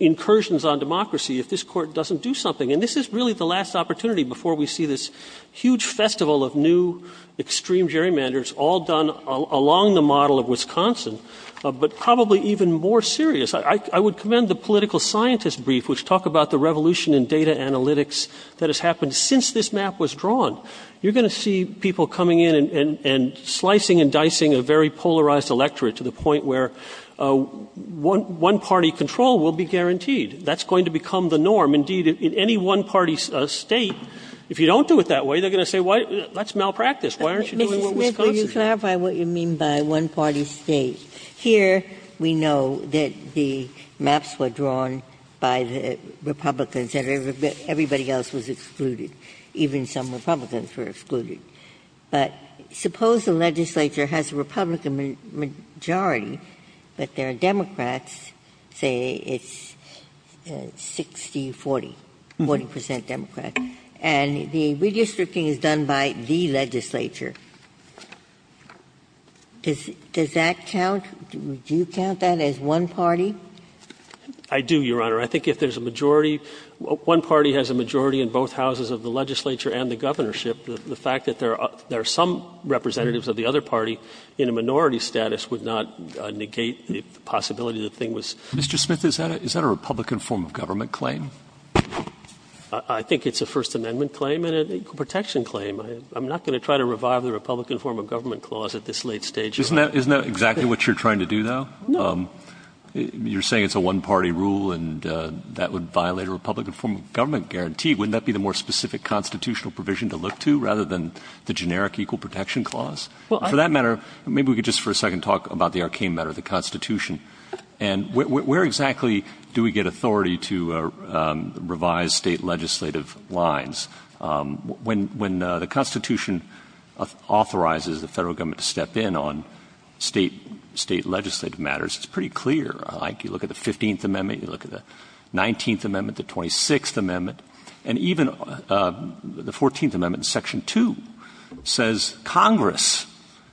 incursions on democracy if this Court doesn't do something. And this is really the last opportunity before we see this huge festival of new extreme gerrymanders, all done along the model of Wisconsin, but probably even more serious. I would commend the political scientist brief, which talked about the revolution in data analytics that has happened since this map was drawn. You're going to see people coming in and slicing and dicing a very polarized electorate to the point where one-party control will be guaranteed. That's going to become the norm. Indeed, in any one-party State, if you don't do it that way, they're going to say, well, that's malpractice. Why aren't you doing it in Wisconsin? Ginsburg. Ginsburg. You clarify what you mean by one-party State. Here, we know that the maps were drawn by the Republicans and everybody else was excluded. Even some Republicans were excluded. But suppose the legislature has a Republican majority, but there are Democrats, say it's 60, 40, 40 percent Democrat, and the redistricting is done by the legislature. Does that count? Do you count that as one party? I do, Your Honor. I think if there's a majority — one party has a majority in both houses of the legislature and the governorship, the fact that there are some representatives of the other party in a minority status would not negate the possibility that the thing was— Mr. Smith, is that a Republican form of government claim? I think it's a First Amendment claim and an equal protection claim. I'm not going to try to revive the Republican form of government clause at this late stage. Isn't that exactly what you're trying to do, though? No. You're saying it's a one-party rule and that would violate a Republican form of government guarantee. Wouldn't that be the more specific constitutional provision to look to rather than the generic equal protection clause? Well, I— For that matter, maybe we could just for a second talk about the arcane matter of the Constitution. And where exactly do we get authority to revise State legislative lines? When the Constitution authorizes the Federal Government to step in on State legislative matters, it's pretty clear. You look at the 15th Amendment, you look at the 19th Amendment, the 26th Amendment, and even the 14th Amendment in Section 2 says Congress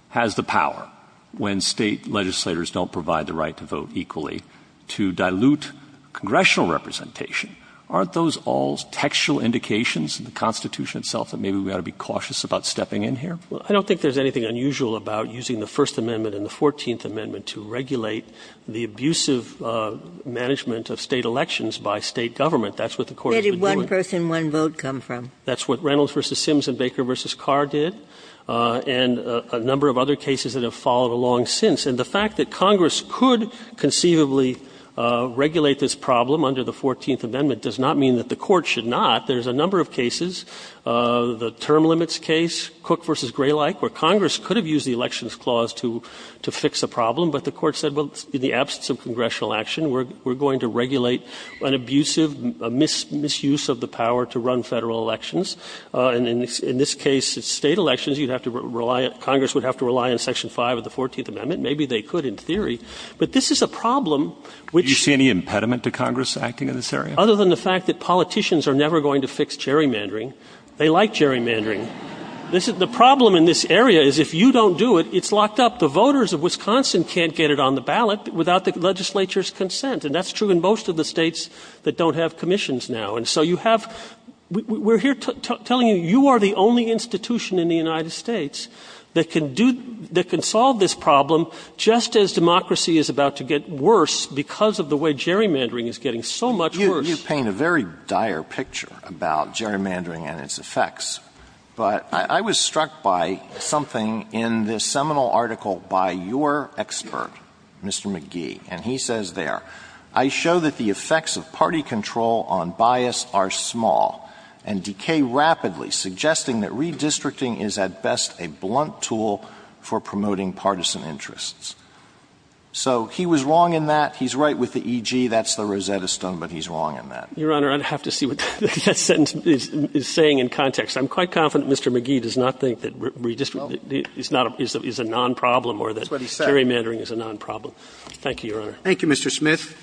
has the power when State legislators don't provide the right to vote equally to dilute congressional representation. Aren't those all textual indications in the Constitution itself that maybe we ought to be cautious about stepping in here? Well, I don't think there's anything unusual about using the First Amendment and the 14th Amendment to regulate the abusive management of State elections by State government. That's what the Court has been doing. Where did one person, one vote come from? That's what Reynolds v. Sims and Baker v. Carr did, and a number of other cases that have followed along since. And the fact that Congress could conceivably regulate this problem under the 14th Amendment does not mean that the Court should not. There's a number of cases, the term limits case, Cook v. Graylike, where Congress could have used the Elections Clause to fix a problem, but the Court said, well, in the absence of congressional action, we're going to regulate an abusive misuse of the power to run Federal elections. And in this case, it's State elections. You'd have to rely, Congress would have to rely on Section 5 of the 14th Amendment, maybe they could in theory. But this is a problem which- Do you see any impediment to Congress acting in this area? Other than the fact that politicians are never going to fix gerrymandering. They like gerrymandering. The problem in this area is if you don't do it, it's locked up. The voters of Wisconsin can't get it on the ballot without the legislature's consent. And that's true in most of the states that don't have commissions now. And so you have, we're here telling you, you are the only institution in the United States that can do, that can solve this problem just as democracy is about to get worse because of the way gerrymandering is getting so much worse. You paint a very dire picture about gerrymandering and its effects. But I was struck by something in this seminal article by your expert, Mr. McGee. And he says there, I show that the effects of party control on bias are small, and decay rapidly, suggesting that redistricting is at best a blunt tool for promoting partisan interests. So he was wrong in that. He's right with the E.G. That's the Rosetta Stone, but he's wrong in that. Your Honor, I'd have to see what that sentence is saying in context. I'm quite confident Mr. McGee does not think that redistricting is a non-problem Thank you, Your Honor. Thank you, Mr. Smith.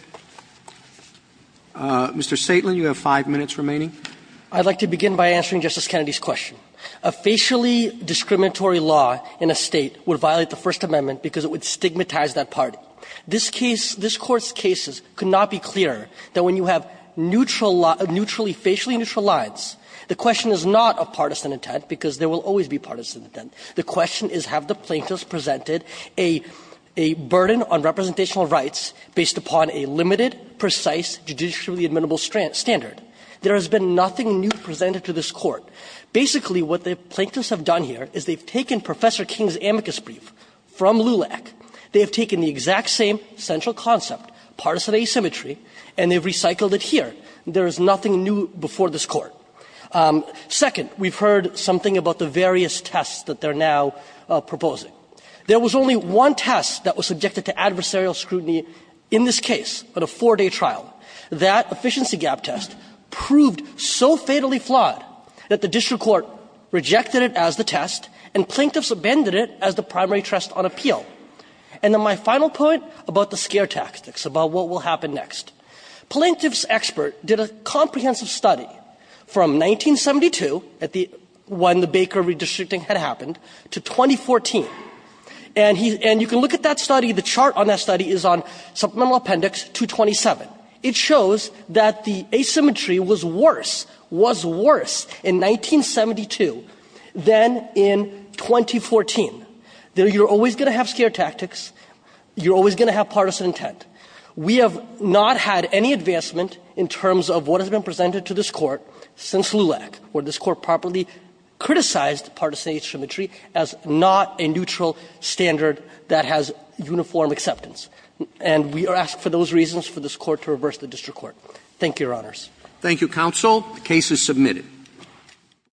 Mr. Saitlan, you have five minutes remaining. I'd like to begin by answering Justice Kennedy's question. A facially discriminatory law in a State would violate the First Amendment because it would stigmatize that party. This case, this Court's cases could not be clearer that when you have neutral law, neutrally, facially neutral lines, the question is not a partisan intent, because there will always be partisan intent. The question is, have the plaintiffs presented a burden on representational rights based upon a limited, precise, judicially admissible standard? There has been nothing new presented to this Court. Basically, what the plaintiffs have done here is they've taken Professor King's amicus brief from LULAC. They have taken the exact same central concept, partisan asymmetry, and they've recycled it here. There is nothing new before this Court. Second, we've heard something about the various tests that they're now proposing. There was only one test that was subjected to adversarial scrutiny in this case at a four-day trial. That efficiency gap test proved so fatally flawed that the district court rejected it as the test, and plaintiffs abandoned it as the primary test on appeal. And then my final point about the scare tactics, about what will happen next. Plaintiffs' expert did a comprehensive study from 1972 at the one the Baker redistricting had happened to 2014. And you can look at that study. The chart on that study is on supplemental appendix 227. It shows that the asymmetry was worse, was worse in 1972 than in 2014. You're always going to have scare tactics. You're always going to have partisan intent. We have not had any advancement in terms of what has been presented to this Court since LULAC, where this Court properly criticized partisan asymmetry as not a neutral standard that has uniform acceptance. And we ask for those reasons for this Court to reverse the district court. Thank you, Your Honors. Roberts. Thank you, counsel. The case is submitted.